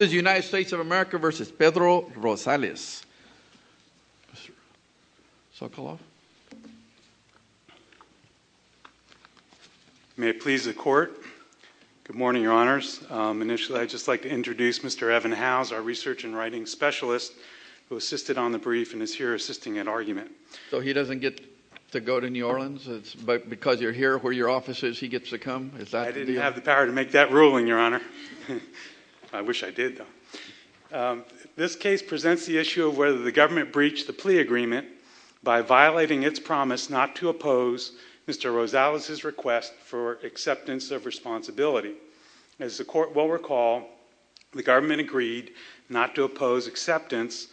May it please the court. Good morning, your honors. Initially, I'd just like to introduce Mr. Evan Howes, our research and writing specialist who assisted on the brief and is here assisting in argument. So he doesn't get to go to New Orleans because you're here where your office is, he gets to come? I didn't have the power to make that ruling, your honor. I wish I did though. This case presents the issue of whether the government breached the plea agreement by violating its promise not to oppose Mr. Rosales' request for acceptance of responsibility. As the court will recall, the government agreed not to oppose acceptance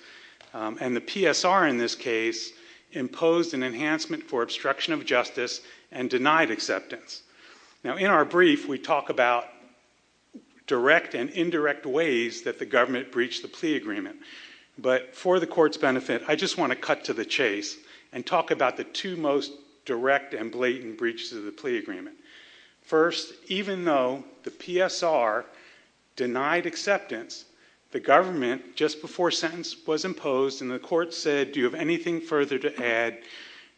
and the PSR in this case imposed an enhancement for obstruction of justice and denied acceptance. Now in our brief, we talk about direct and indirect ways that the government breached the plea agreement. But for the court's benefit, I just want to cut to the chase and talk about the two most direct and blatant breaches of the plea agreement. First, even though the PSR denied acceptance, the government just before sentence was imposed and the court said, do you have anything further to add?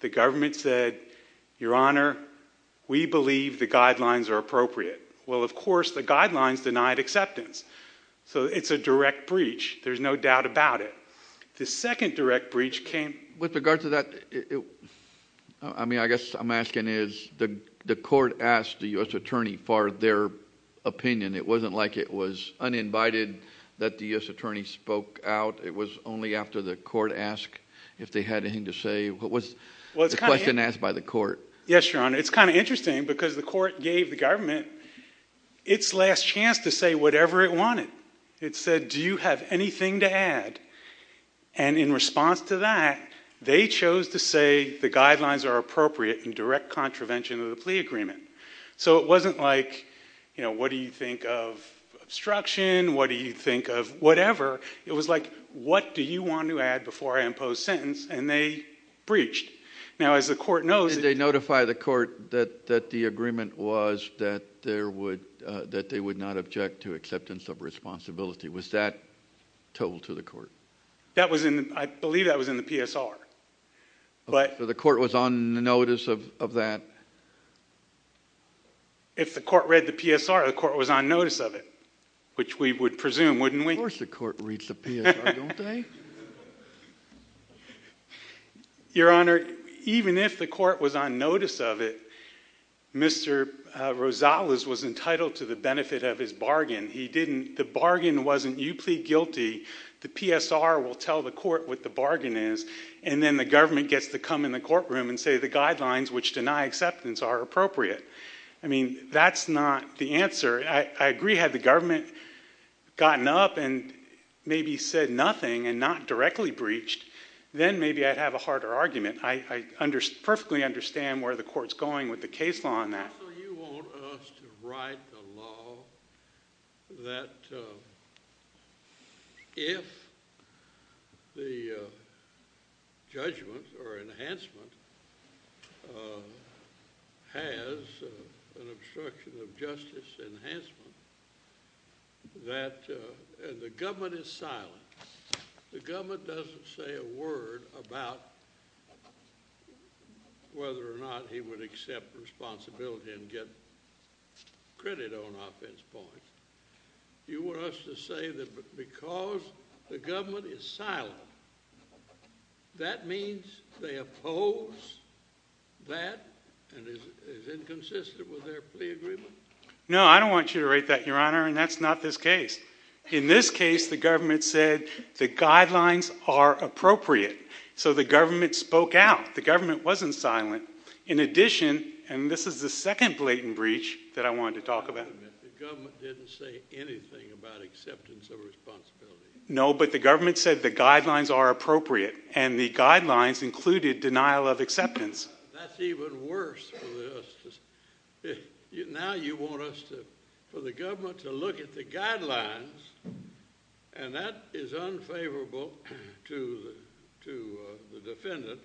The government said, your honor, we believe the guidelines are appropriate. Well, of course, the guidelines denied acceptance. So it's a direct breach. There's no doubt about it. The second direct breach came… With regard to that, I mean, I guess I'm asking is the court asked the U.S. attorney for their opinion. It wasn't like it was uninvited that the U.S. attorney spoke out. It was only after the court asked if they had anything to say. It was a question asked by the court. Yes, your honor. It's kind of interesting because the court gave the government its last chance to say whatever it wanted. It said, do you have anything to add? And in response to that, they chose to say the guidelines are appropriate and direct contravention of the plea agreement. So it wasn't like, you know, what do you think of obstruction? What do you think of whatever? It was like, what do you want to add before I impose sentence? And they breached. Did they notify the court that the agreement was that they would not object to acceptance of responsibility? Was that told to the court? I believe that was in the PSR. The court was on notice of that? If the court read the PSR, the court was on notice of it, which we would presume, wouldn't we? Of course the court reads the PSR, don't they? Your honor, even if the court was on notice of it, Mr. Rosales was entitled to the benefit of his bargain. The bargain wasn't you plead guilty, the PSR will tell the court what the bargain is, and then the government gets to come in the courtroom and say the guidelines which deny acceptance are appropriate. I mean, that's not the answer. I agree had the government gotten up and maybe said nothing and not directly breached, then maybe I'd have a harder argument. I perfectly understand where the court's going with the case law on that. Counsel, you want us to write a law that if the judgment or enhancement has an obstruction of justice enhancement that the government is silent, the government doesn't say a word about whether or not he would accept responsibility and get credit on offense points. You want us to say that because the government is silent, that means they oppose that and is inconsistent with their plea agreement? No, I don't want you to write that, your honor, and that's not this case. In this case, the government said the guidelines are appropriate, so the government spoke out. The government wasn't silent. In addition, and this is the second blatant breach that I wanted to talk about. The government didn't say anything about acceptance of responsibility. No, but the government said the guidelines are appropriate, and the guidelines included denial of acceptance. That's even worse for this. Now you want us to, for the government to look at the guidelines, and that is unfavorable to the defendant,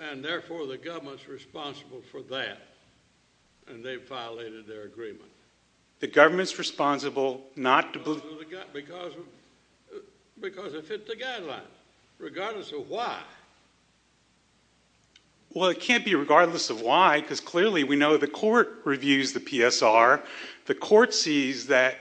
and therefore the government's responsible for that, and they've violated their agreement. The government's responsible not to believe. Because it fits the guidelines, regardless of why. Well, it can't be regardless of why, because clearly we know the court reviews the PSR. The court sees that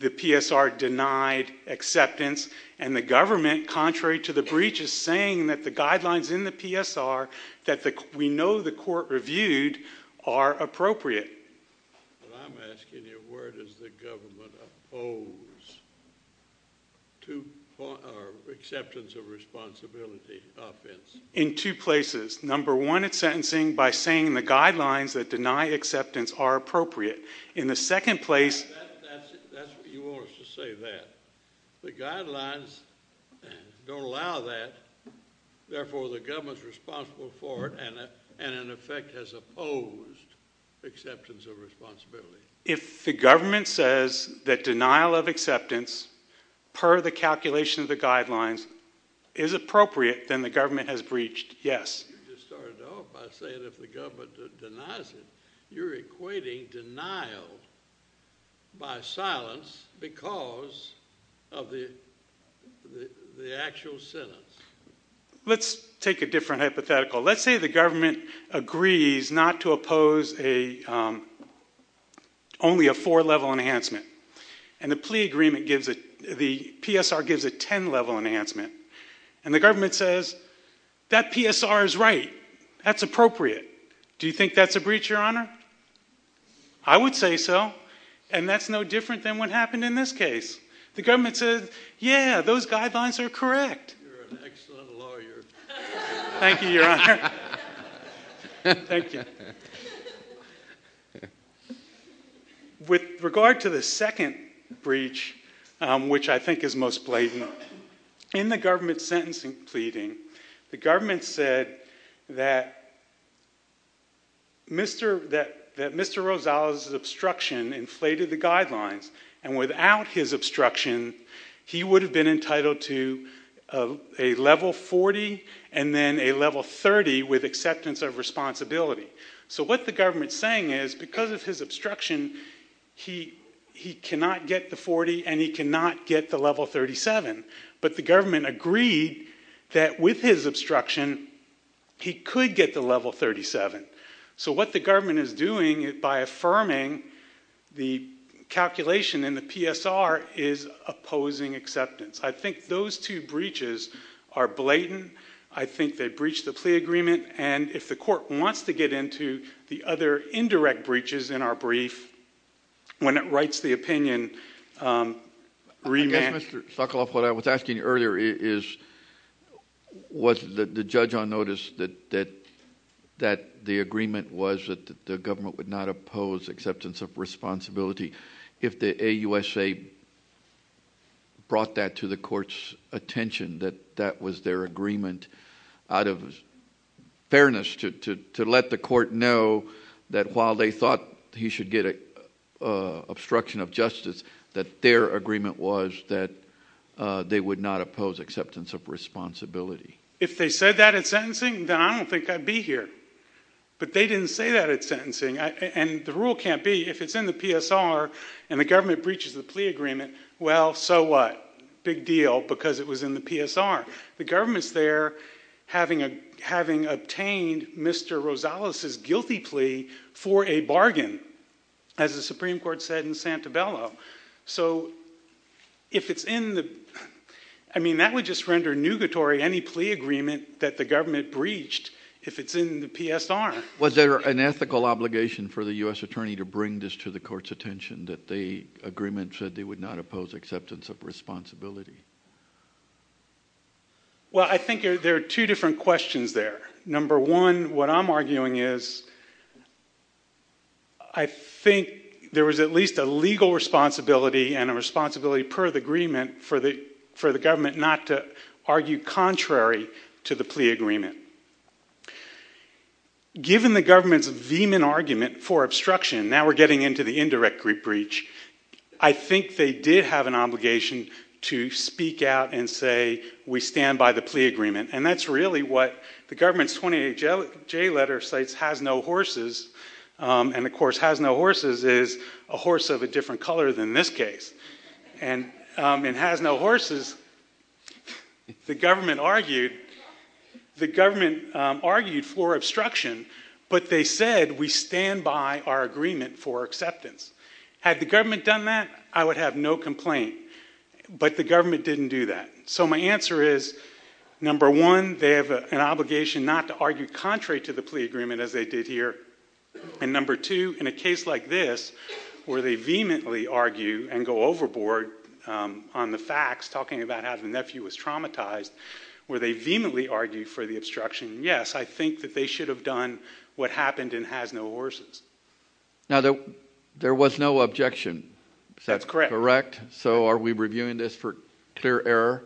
the PSR denied acceptance, and the government, contrary to the breach, is saying that the guidelines in the PSR that we know the court reviewed are appropriate. I'm asking you, where does the government oppose acceptance of responsibility offense? In two places. Number one, it's sentencing by saying the guidelines that deny acceptance are appropriate. You want us to say that. The guidelines don't allow that, therefore the government's responsible for it, and in effect has opposed acceptance of responsibility. If the government says that denial of acceptance, per the calculation of the guidelines, is appropriate, then the government has breached, yes. You started off by saying if the government denies it, you're equating denial by silence because of the actual sentence. Let's take a different hypothetical. Let's say the government agrees not to oppose only a four-level enhancement, and the plea agreement gives it—the PSR gives a ten-level enhancement. And the government says, that PSR is right. That's appropriate. Do you think that's a breach, Your Honor? I would say so, and that's no different than what happened in this case. The government says, yeah, those guidelines are correct. You're an excellent lawyer. Thank you, Your Honor. Thank you. With regard to the second breach, which I think is most blatant, in the government's sentencing pleading, the government said that Mr. Rosales' obstruction inflated the guidelines, and without his obstruction, he would have been entitled to a level 40 and then a level 30 with acceptance of responsibility. So what the government's saying is because of his obstruction, he cannot get the 40 and he cannot get the level 37. But the government agreed that with his obstruction, he could get the level 37. So what the government is doing by affirming the calculation in the PSR is opposing acceptance. I think those two breaches are blatant. I think they breach the plea agreement. And if the court wants to get into the other indirect breaches in our brief, when it writes the opinion— Yes, Mr. Sokoloff, what I was asking earlier is, was the judge on notice that the agreement was that the government would not oppose acceptance of responsibility? If the AUSA brought that to the court's attention, that that was their agreement out of fairness to let the court know that while they thought he should get obstruction of justice, that their agreement was that they would not oppose acceptance of responsibility? If they said that at sentencing, then I don't think I'd be here. But they didn't say that at sentencing. And the rule can't be if it's in the PSR and the government breaches the plea agreement, well, so what? Big deal because it was in the PSR. The government's there having obtained Mr. Rosales' guilty plea for a bargain, as the Supreme Court said in Santabello. So if it's in the—I mean, that would just render nugatory any plea agreement that the government breached if it's in the PSR. Was there an ethical obligation for the U.S. attorney to bring this to the court's attention, that the agreement said they would not oppose acceptance of responsibility? Well, I think there are two different questions there. Number one, what I'm arguing is I think there was at least a legal responsibility and a responsibility per the agreement for the government not to argue contrary to the plea agreement. Given the government's vehement argument for obstruction, now we're getting into the indirect breach, I think they did have an obligation to speak out and say we stand by the plea agreement. And that's really what the government's 28J letter states has no horses. And, of course, has no horses is a horse of a different color than this case. And it has no horses. The government argued for obstruction, but they said we stand by our agreement for acceptance. Had the government done that, I would have no complaint. But the government didn't do that. So my answer is, number one, they have an obligation not to argue contrary to the plea agreement, as they did here. And number two, in a case like this, where they vehemently argue and go overboard on the facts, talking about how the nephew was traumatized, where they vehemently argue for the obstruction, yes, I think that they should have done what happened and has no horses. Now, there was no objection. Is that correct? That's correct. So are we reviewing this for clear error?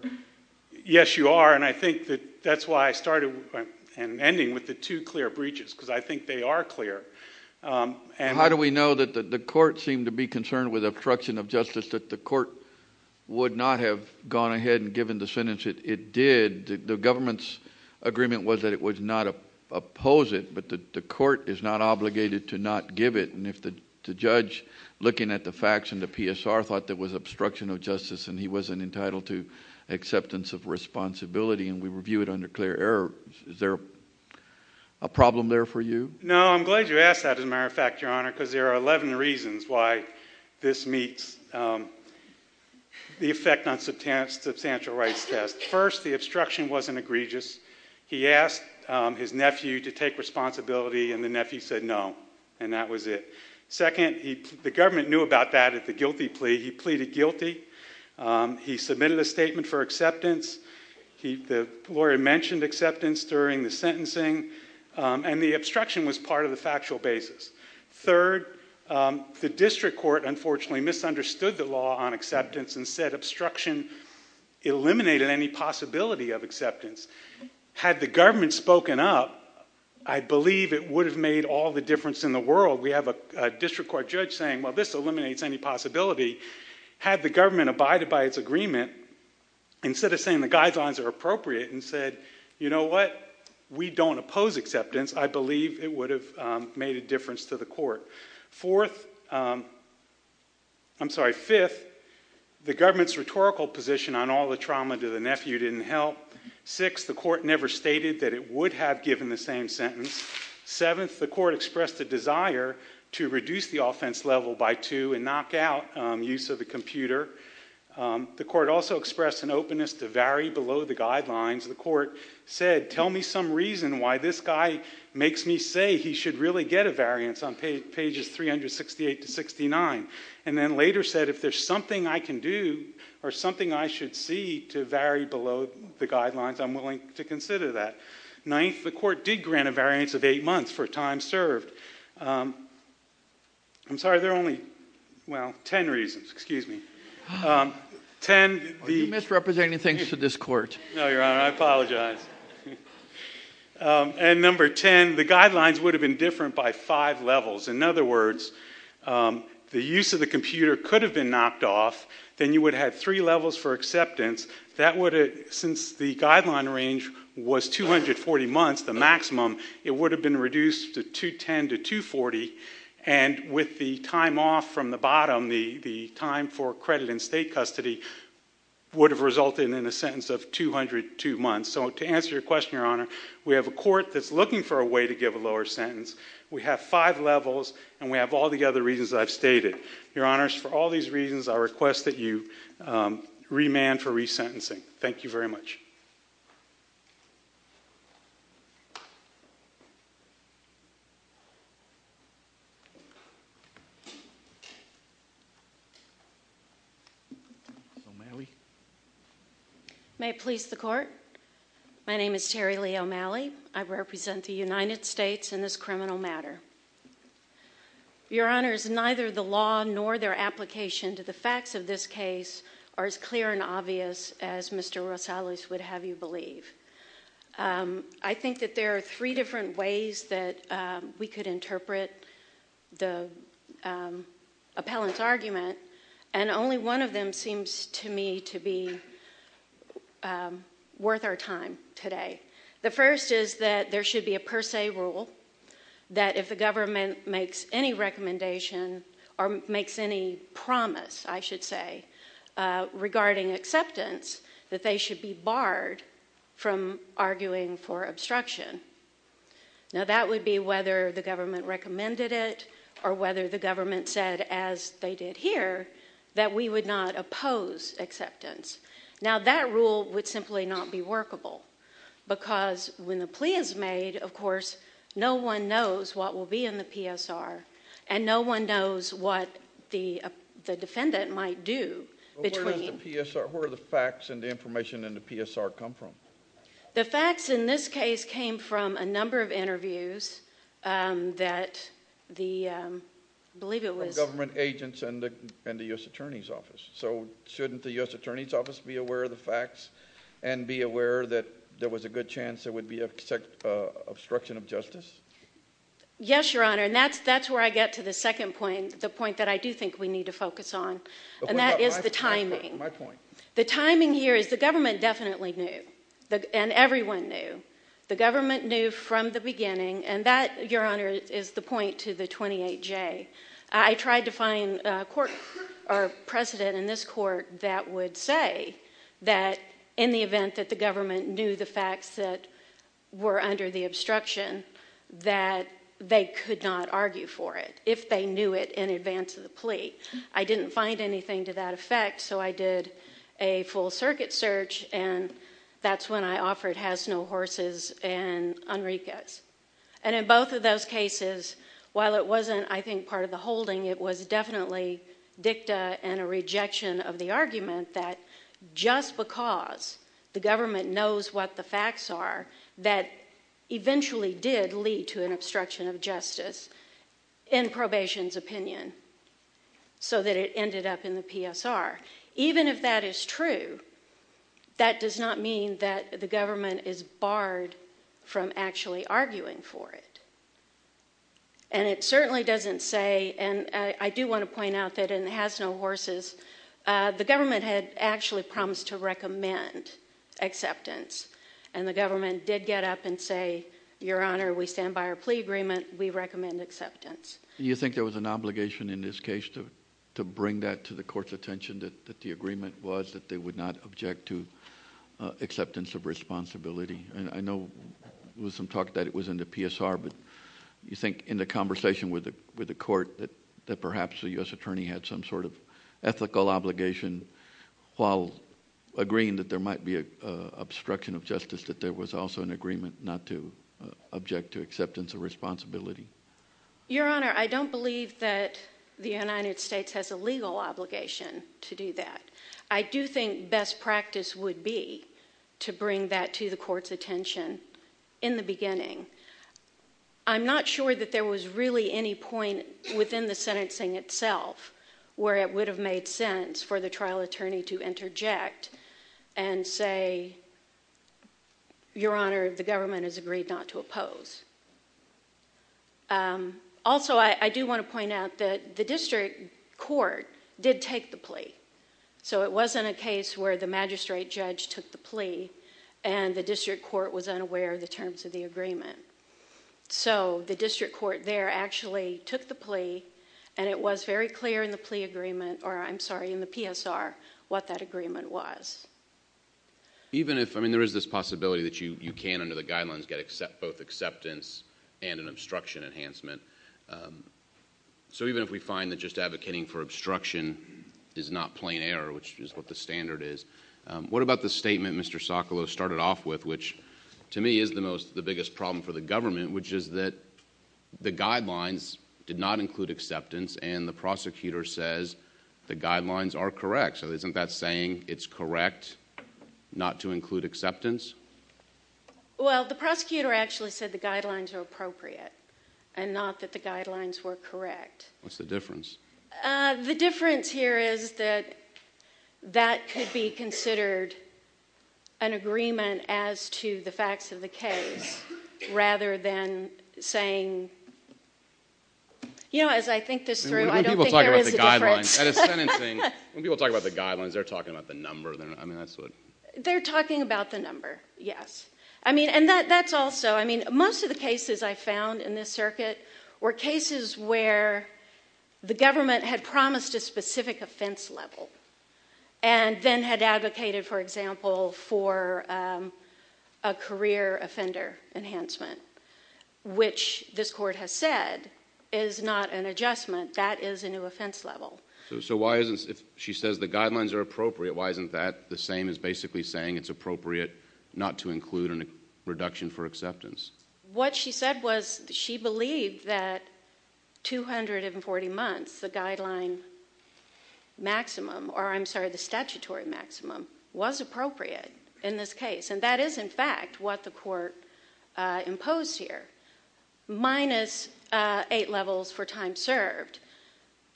Yes, you are. And I think that that's why I started and ended with the two clear breaches, because I think they are clear. How do we know that the court seemed to be concerned with obstruction of justice, that the court would not have gone ahead and given the sentence it did? The government's agreement was that it would not oppose it, but the court is not obligated to not give it. And if the judge, looking at the facts and the PSR, thought that it was obstruction of justice and he wasn't entitled to acceptance of responsibility and we review it under clear error, is there a problem there for you? No, I'm glad you asked that, as a matter of fact, Your Honor, because there are 11 reasons why this meets the effect on substantial rights test. First, the obstruction wasn't egregious. He asked his nephew to take responsibility, and the nephew said no, and that was it. Second, the government knew about that at the guilty plea. He pleaded guilty. He submitted a statement for acceptance. The lawyer mentioned acceptance during the sentencing, and the obstruction was part of the factual basis. Third, the district court, unfortunately, misunderstood the law on acceptance and said obstruction eliminated any possibility of acceptance. Had the government spoken up, I believe it would have made all the difference in the world. We have a district court judge saying, well, this eliminates any possibility. Had the government abided by its agreement, instead of saying the guidelines are appropriate and said, you know what, we don't oppose acceptance, I believe it would have made a difference to the court. Fourth, I'm sorry, fifth, the government's rhetorical position on all the trauma to the nephew didn't help. Sixth, the court never stated that it would have given the same sentence. Seventh, the court expressed a desire to reduce the offense level by two and knock out use of the computer. The court also expressed an openness to vary below the guidelines. The court said, tell me some reason why this guy makes me say he should really get a variance on pages 368 to 69. And then later said, if there's something I can do or something I should see to vary below the guidelines, I'm willing to consider that. Ninth, the court did grant a variance of eight months for time served. I'm sorry, there are only, well, ten reasons. Excuse me. Ten. Are you misrepresenting things to this court? No, Your Honor, I apologize. And number ten, the guidelines would have been different by five levels. In other words, the use of the computer could have been knocked off. Then you would have had three levels for acceptance. That would have, since the guideline range was 240 months, the maximum, it would have been reduced to 210 to 240. And with the time off from the bottom, the time for credit in state custody would have resulted in a sentence of 202 months. So to answer your question, Your Honor, we have a court that's looking for a way to give a lower sentence. We have five levels, and we have all the other reasons I've stated. Your Honors, for all these reasons, I request that you remand for resentencing. Thank you very much. O'Malley. May it please the Court. My name is Terri Lee O'Malley. I represent the United States in this criminal matter. Your Honors, neither the law nor their application to the facts of this case are as clear and obvious as Mr. Rosales would have you believe. I think that there are three different ways that we could interpret the appellant's argument, and only one of them seems to me to be worth our time today. The first is that there should be a per se rule that if the government makes any recommendation, or makes any promise, I should say, regarding acceptance, that they should be barred from arguing for obstruction. Now, that would be whether the government recommended it or whether the government said, as they did here, that we would not oppose acceptance. Now, that rule would simply not be workable because when the plea is made, of course, no one knows what will be in the PSR, and no one knows what the defendant might do. Where does the PSR, where do the facts and the information in the PSR come from? The facts in this case came from a number of interviews that the, I believe it was. Government agents and the U.S. Attorney's Office. So, shouldn't the U.S. Attorney's Office be aware of the facts and be aware that there was a good chance there would be obstruction of justice? Yes, Your Honor, and that's where I get to the second point, the point that I do think we need to focus on, and that is the timing. My point. The timing here is the government definitely knew, and everyone knew. The government knew from the beginning, and that, Your Honor, is the point to the 28J. I tried to find a court or president in this court that would say that in the event that the government knew the facts that were under the obstruction, that they could not argue for it if they knew it in advance of the plea. I didn't find anything to that effect, so I did a full circuit search, and that's when I offered Hasno Horses and Enriquez. And in both of those cases, while it wasn't, I think, part of the holding, it was definitely dicta and a rejection of the argument that just because the government knows what the facts are, that eventually did lead to an obstruction of justice in probation's opinion so that it ended up in the PSR. Even if that is true, that does not mean that the government is barred from actually arguing for it. And it certainly doesn't say, and I do want to point out that in Hasno Horses, the government had actually promised to recommend acceptance, and the government did get up and say, Your Honor, we stand by our plea agreement. We recommend acceptance. Do you think there was an obligation in this case to bring that to the court's attention, that the agreement was that they would not object to acceptance of responsibility? And I know there was some talk that it was in the PSR, but do you think in the conversation with the court that perhaps the U.S. attorney had some sort of ethical obligation while agreeing that there might be an obstruction of justice, that there was also an agreement not to object to acceptance of responsibility? Your Honor, I don't believe that the United States has a legal obligation to do that. I do think best practice would be to bring that to the court's attention in the beginning. I'm not sure that there was really any point within the sentencing itself where it would have made sense for the trial attorney to interject and say, Your Honor, the government has agreed not to oppose. Also, I do want to point out that the district court did take the plea, so it wasn't a case where the magistrate judge took the plea and the district court was unaware of the terms of the agreement. So the district court there actually took the plea, and it was very clear in the PSR what that agreement was. There is this possibility that you can, under the guidelines, get both acceptance and an obstruction enhancement. So even if we find that just advocating for obstruction is not plain error, which is what the standard is, what about the statement Mr. Sokolow started off with, which to me is the biggest problem for the government, which is that the guidelines did not include acceptance, and the prosecutor says the guidelines are correct. Actually, isn't that saying it's correct not to include acceptance? Well, the prosecutor actually said the guidelines are appropriate and not that the guidelines were correct. What's the difference? The difference here is that that could be considered an agreement as to the facts of the case rather than saying, you know, as I think this through, I don't think there is a difference. When people talk about the guidelines, they're talking about the number. They're talking about the number, yes. And that's also, I mean, most of the cases I found in this circuit were cases where the government had promised a specific offense level and then had advocated, for example, for a career offender enhancement, which this court has said is not an adjustment, that is a new offense level. So why isn't, if she says the guidelines are appropriate, why isn't that the same as basically saying it's appropriate not to include a reduction for acceptance? What she said was she believed that 240 months, the guideline maximum, or I'm sorry, the statutory maximum, was appropriate in this case, and that is, in fact, what the court imposed here, minus eight levels for time served.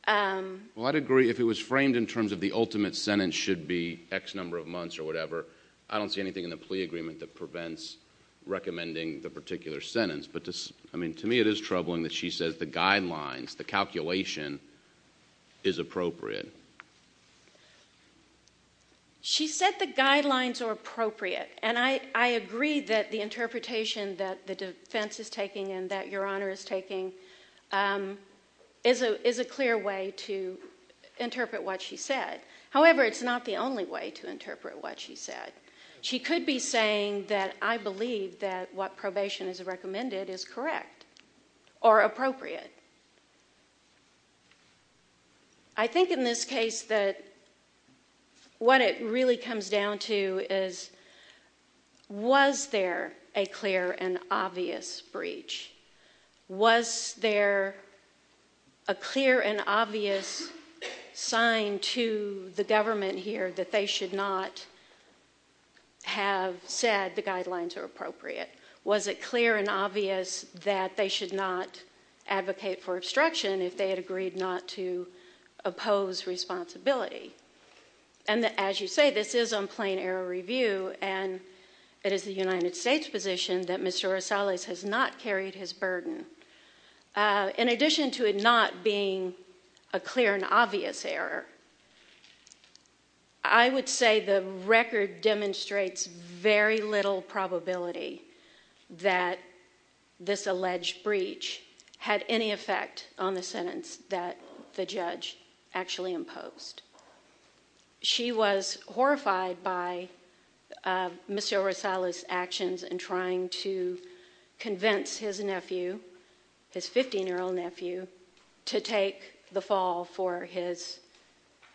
Well, I'd agree. If it was framed in terms of the ultimate sentence should be X number of months or whatever, I don't see anything in the plea agreement that prevents recommending the particular sentence. But, I mean, to me it is troubling that she says the guidelines, the calculation, is appropriate. She said the guidelines are appropriate, and I agree that the interpretation that the defense is taking and that Your Honor is taking is a clear way to interpret what she said. However, it's not the only way to interpret what she said. She could be saying that I believe that what probation has recommended is correct or appropriate. I think in this case that what it really comes down to is was there a clear and obvious breach? Was there a clear and obvious sign to the government here that they should not have said the guidelines are appropriate? Was it clear and obvious that they should not advocate for obstruction if they had agreed not to oppose responsibility? And as you say, this is on plain error review, and it is the United States' position that Mr. Rosales has not carried his burden. In addition to it not being a clear and obvious error, I would say the record demonstrates very little probability that this alleged breach had any effect on the sentence that the judge actually imposed. She was horrified by Mr. Rosales' actions in trying to convince his nephew, his 15-year-old nephew, to take the fall for his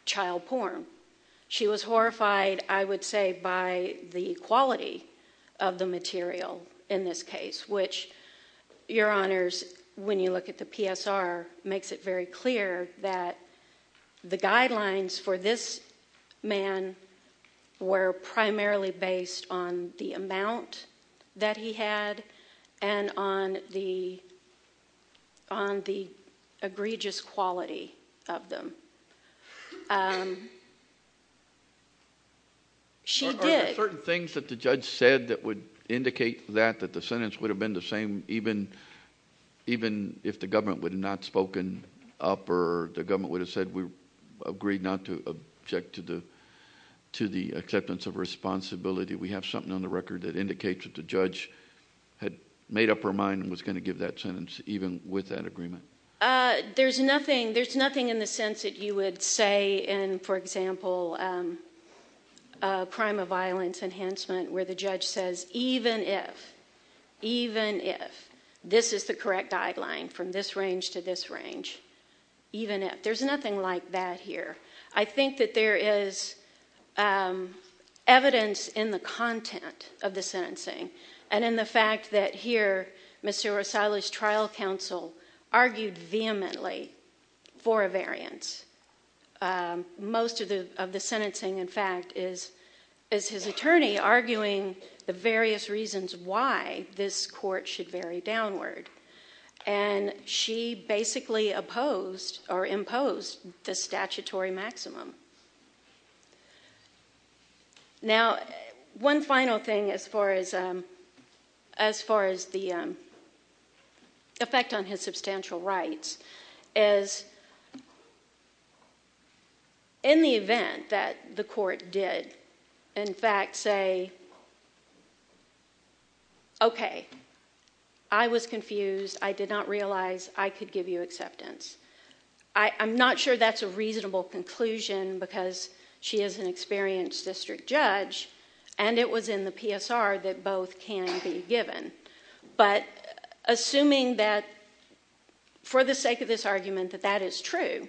child porn. She was horrified, I would say, by the quality of the material in this case, which, Your Honors, when you look at the PSR, makes it very clear that the guidelines for this man were primarily based on the amount that he had and on the egregious quality of them. Are there certain things that the judge said that would indicate that the sentence would have been the same even if the government would have not spoken up or the government would have said we agreed not to object to the acceptance of responsibility? We have something on the record that indicates that the judge had made up her mind and was going to give that sentence even with that agreement. There's nothing in the sense that you would say in, for example, a crime of violence enhancement where the judge says even if, even if, this is the correct guideline from this range to this range, even if. There's nothing like that here. I think that there is evidence in the content of the sentencing and in the fact that here, Mr. Rosales' trial counsel argued vehemently for a variance. Most of the sentencing, in fact, is his attorney arguing the various reasons why this court should vary downward. And she basically opposed or imposed the statutory maximum. Now, one final thing as far as the effect on his substantial rights is in the event that the court did, in fact, say, okay, I was confused. I did not realize I could give you acceptance. I'm not sure that's a reasonable conclusion because she is an experienced district judge, and it was in the PSR that both can be given. But assuming that for the sake of this argument that that is true,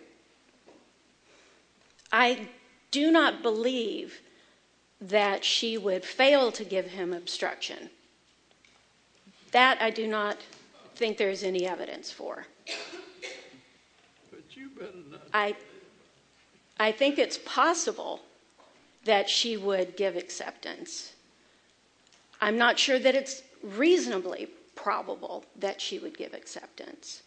I do not believe that she would fail to give him obstruction. That I do not think there is any evidence for. I think it's possible that she would give acceptance. I'm not sure that it's reasonably probable that she would give acceptance.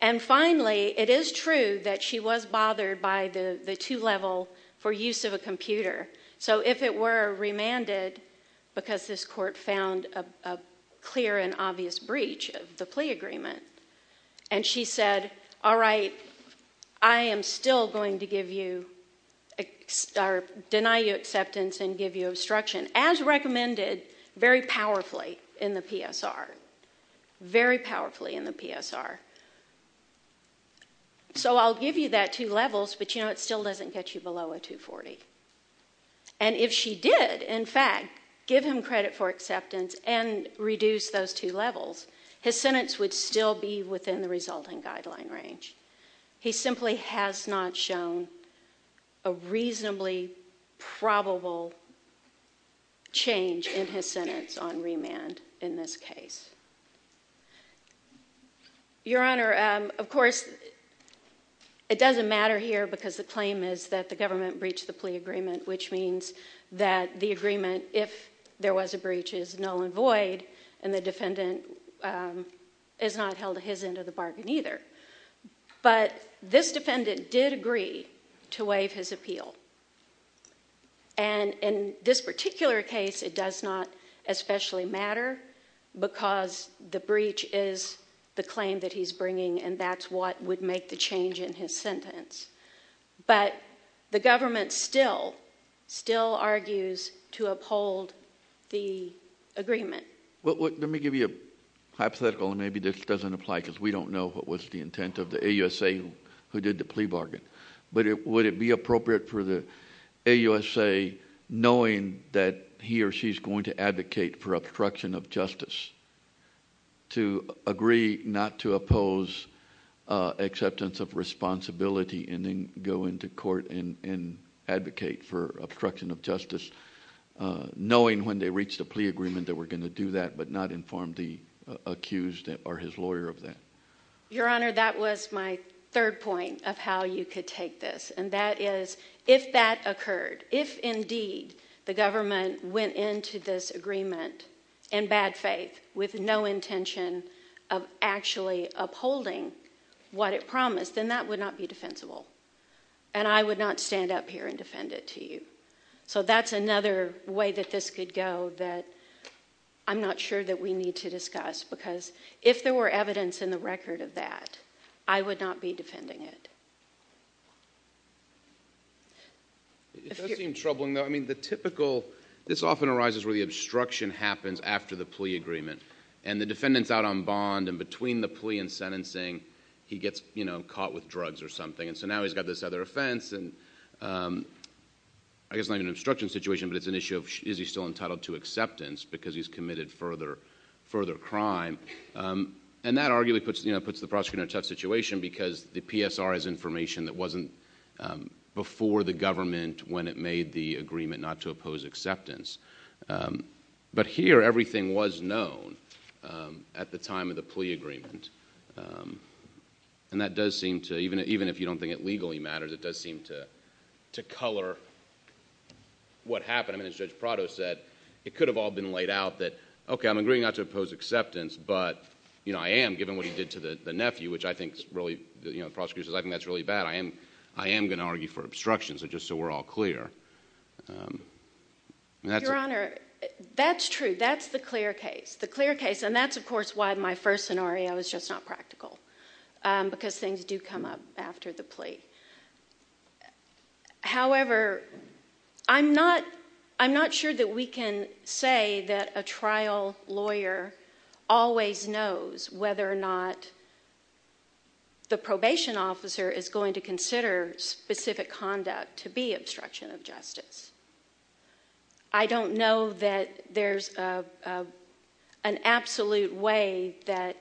And finally, it is true that she was bothered by the two-level for use of a computer. So if it were remanded because this court found a clear and obvious breach of the plea agreement, and she said, all right, I am still going to deny you acceptance and give you obstruction, as recommended very powerfully in the PSR, very powerfully in the PSR. So I'll give you that two levels, but, you know, it still doesn't get you below a 240. And if she did, in fact, give him credit for acceptance and reduce those two levels, his sentence would still be within the resulting guideline range. He simply has not shown a reasonably probable change in his sentence on remand in this case. Your Honor, of course, it doesn't matter here because the claim is that the government breached the plea agreement, which means that the agreement, if there was a breach, is null and void, and the defendant is not held to his end of the bargain either. But this defendant did agree to waive his appeal. And in this particular case, it does not especially matter because the breach is the claim that he's bringing, and that's what would make the change in his sentence. But the government still argues to uphold the agreement. Let me give you a hypothetical, and maybe this doesn't apply because we don't know what was the intent of the AUSA who did the plea bargain. But would it be appropriate for the AUSA, knowing that he or she is going to advocate for obstruction of justice, to agree not to oppose acceptance of responsibility and then go into court and advocate for obstruction of justice, knowing when they reached a plea agreement that we're going to do that but not inform the accused or his lawyer of that? Your Honor, that was my third point of how you could take this, and that is if that occurred, if indeed the government went into this agreement in bad faith with no intention of actually upholding what it promised, then that would not be defensible, and I would not stand up here and defend it to you. So that's another way that this could go that I'm not sure that we need to discuss because if there were evidence in the record of that, I would not be defending it. It does seem troubling, though. I mean, the typical—this often arises where the obstruction happens after the plea agreement, and the defendant's out on bond, and between the plea and sentencing, he gets caught with drugs or something, and so now he's got this other offense, and I guess not even an obstruction situation, but it's an issue of is he still entitled to acceptance because he's committed further crime, and that arguably puts the prosecutor in a tough situation because the PSR has information that wasn't before the government when it made the agreement not to oppose acceptance. But here, everything was known at the time of the plea agreement, and that does seem to—even if you don't think it legally matters, it does seem to color what happened. I mean, as Judge Prado said, it could have all been laid out that, okay, I'm agreeing not to oppose acceptance, but I am, given what he did to the nephew, which I think the prosecutor says, I think that's really bad. I am going to argue for obstruction just so we're all clear. Your Honor, that's true. That's the clear case. That's the clear case, and that's, of course, why my first scenario is just not practical because things do come up after the plea. However, I'm not sure that we can say that a trial lawyer always knows whether or not the probation officer is going to consider specific conduct to be obstruction of justice. I don't know that there's an absolute way that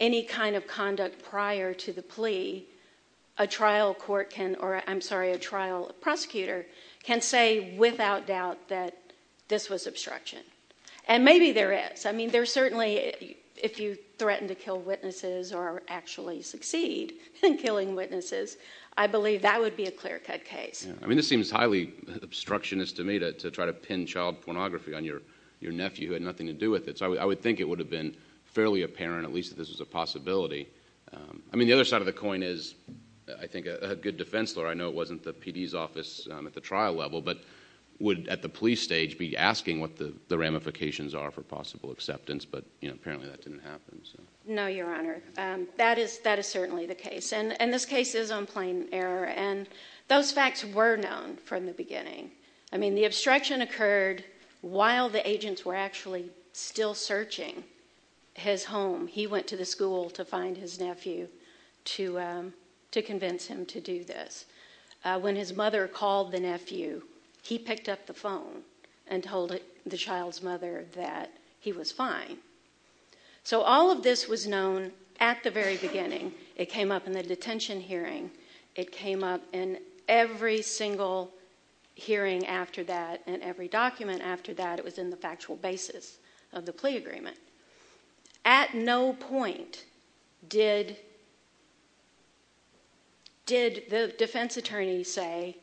any kind of conduct prior to the plea, a trial court can—or, I'm sorry, a trial prosecutor can say without doubt that this was obstruction. And maybe there is. I mean, there certainly—if you threaten to kill witnesses or actually succeed in killing witnesses, I believe that would be a clear-cut case. I mean, this seems highly obstructionist to me to try to pin child pornography on your nephew who had nothing to do with it. So I would think it would have been fairly apparent, at least, that this was a possibility. I mean, the other side of the coin is, I think, a good defense lawyer— I know it wasn't the PD's office at the trial level, but would, at the plea stage, be asking what the ramifications are for possible acceptance, but apparently that didn't happen. No, Your Honor. That is certainly the case, and this case is on plain error. And those facts were known from the beginning. I mean, the obstruction occurred while the agents were actually still searching his home. He went to the school to find his nephew to convince him to do this. When his mother called the nephew, he picked up the phone and told the child's mother that he was fine. So all of this was known at the very beginning. It came up in the detention hearing. It came up in every single hearing after that and every document after that. It was in the factual basis of the plea agreement. At no point did the defense attorney say,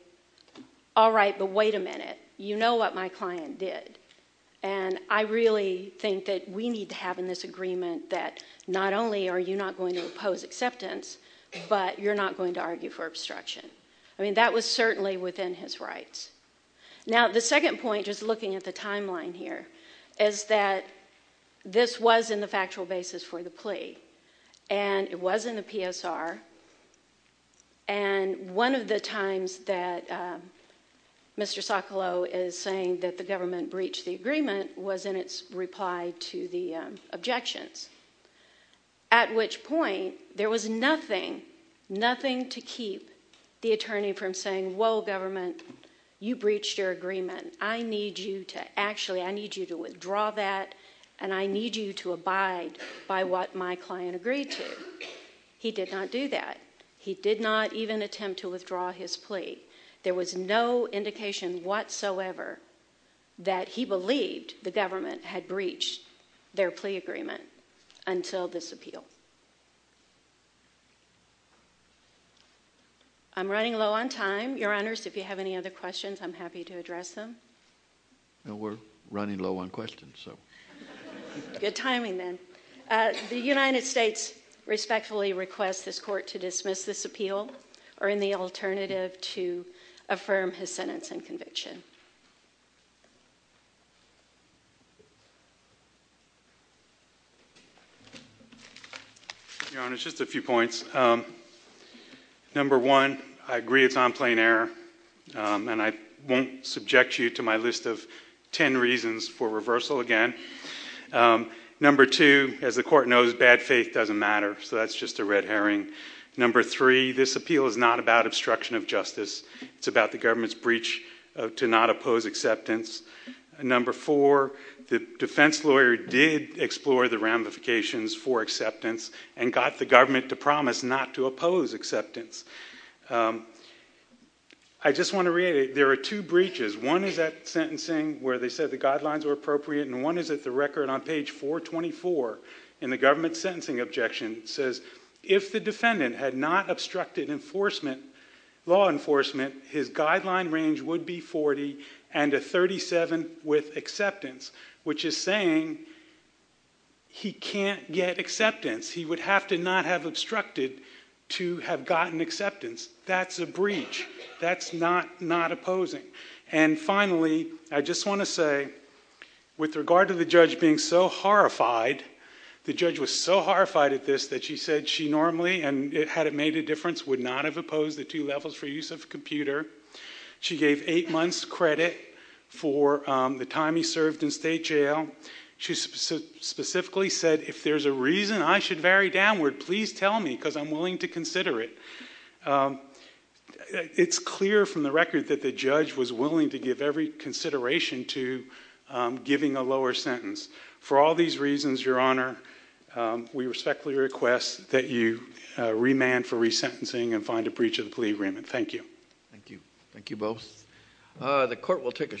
all right, but wait a minute. You know what my client did, and I really think that we need to have in this agreement that not only are you not going to oppose acceptance, but you're not going to argue for obstruction. I mean, that was certainly within his rights. Now, the second point, just looking at the timeline here, is that this was in the factual basis for the plea, and it was in the PSR, and one of the times that Mr. Socolow is saying that the government breached the agreement was in its reply to the objections, at which point there was nothing, nothing to keep the attorney from saying, whoa, government, you breached your agreement. I need you to actually, I need you to withdraw that, and I need you to abide by what my client agreed to. He did not do that. He did not even attempt to withdraw his plea. There was no indication whatsoever that he believed the government had breached their plea agreement until this appeal. I'm running low on time, Your Honors. If you have any other questions, I'm happy to address them. No, we're running low on questions, so. Good timing, then. The United States respectfully requests this court to dismiss this appeal or any alternative to affirm his sentence and conviction. Your Honors, just a few points. Number one, I agree it's on plain error, and I won't subject you to my list of ten reasons for reversal again. Number two, as the court knows, bad faith doesn't matter, so that's just a red herring. Number three, this appeal is not about obstruction of justice. It's about the government's breach to not oppose acceptance. Number four, the defense lawyer did explore the ramifications for acceptance and got the government to promise not to oppose acceptance. I just want to reiterate, there are two breaches. One is at sentencing where they said the guidelines were appropriate, and one is at the record on page 424 in the government sentencing objection. It says, if the defendant had not obstructed enforcement, law enforcement, his guideline range would be 40 and a 37 with acceptance, which is saying he can't get acceptance. He would have to not have obstructed to have gotten acceptance. That's a breach. That's not opposing. And finally, I just want to say, with regard to the judge being so horrified, the judge was so horrified at this that she said she normally, and had it made a difference, would not have opposed the two levels for use of computer. She gave eight months credit for the time he served in state jail. She specifically said, if there's a reason I should vary downward, please tell me, because I'm willing to consider it. It's clear from the record that the judge was willing to give every consideration to giving a lower sentence. For all these reasons, Your Honor, we respectfully request that you remand for resentencing and find a breach of the plea agreement. Thank you. Thank you. Thank you both. The court will take a short break.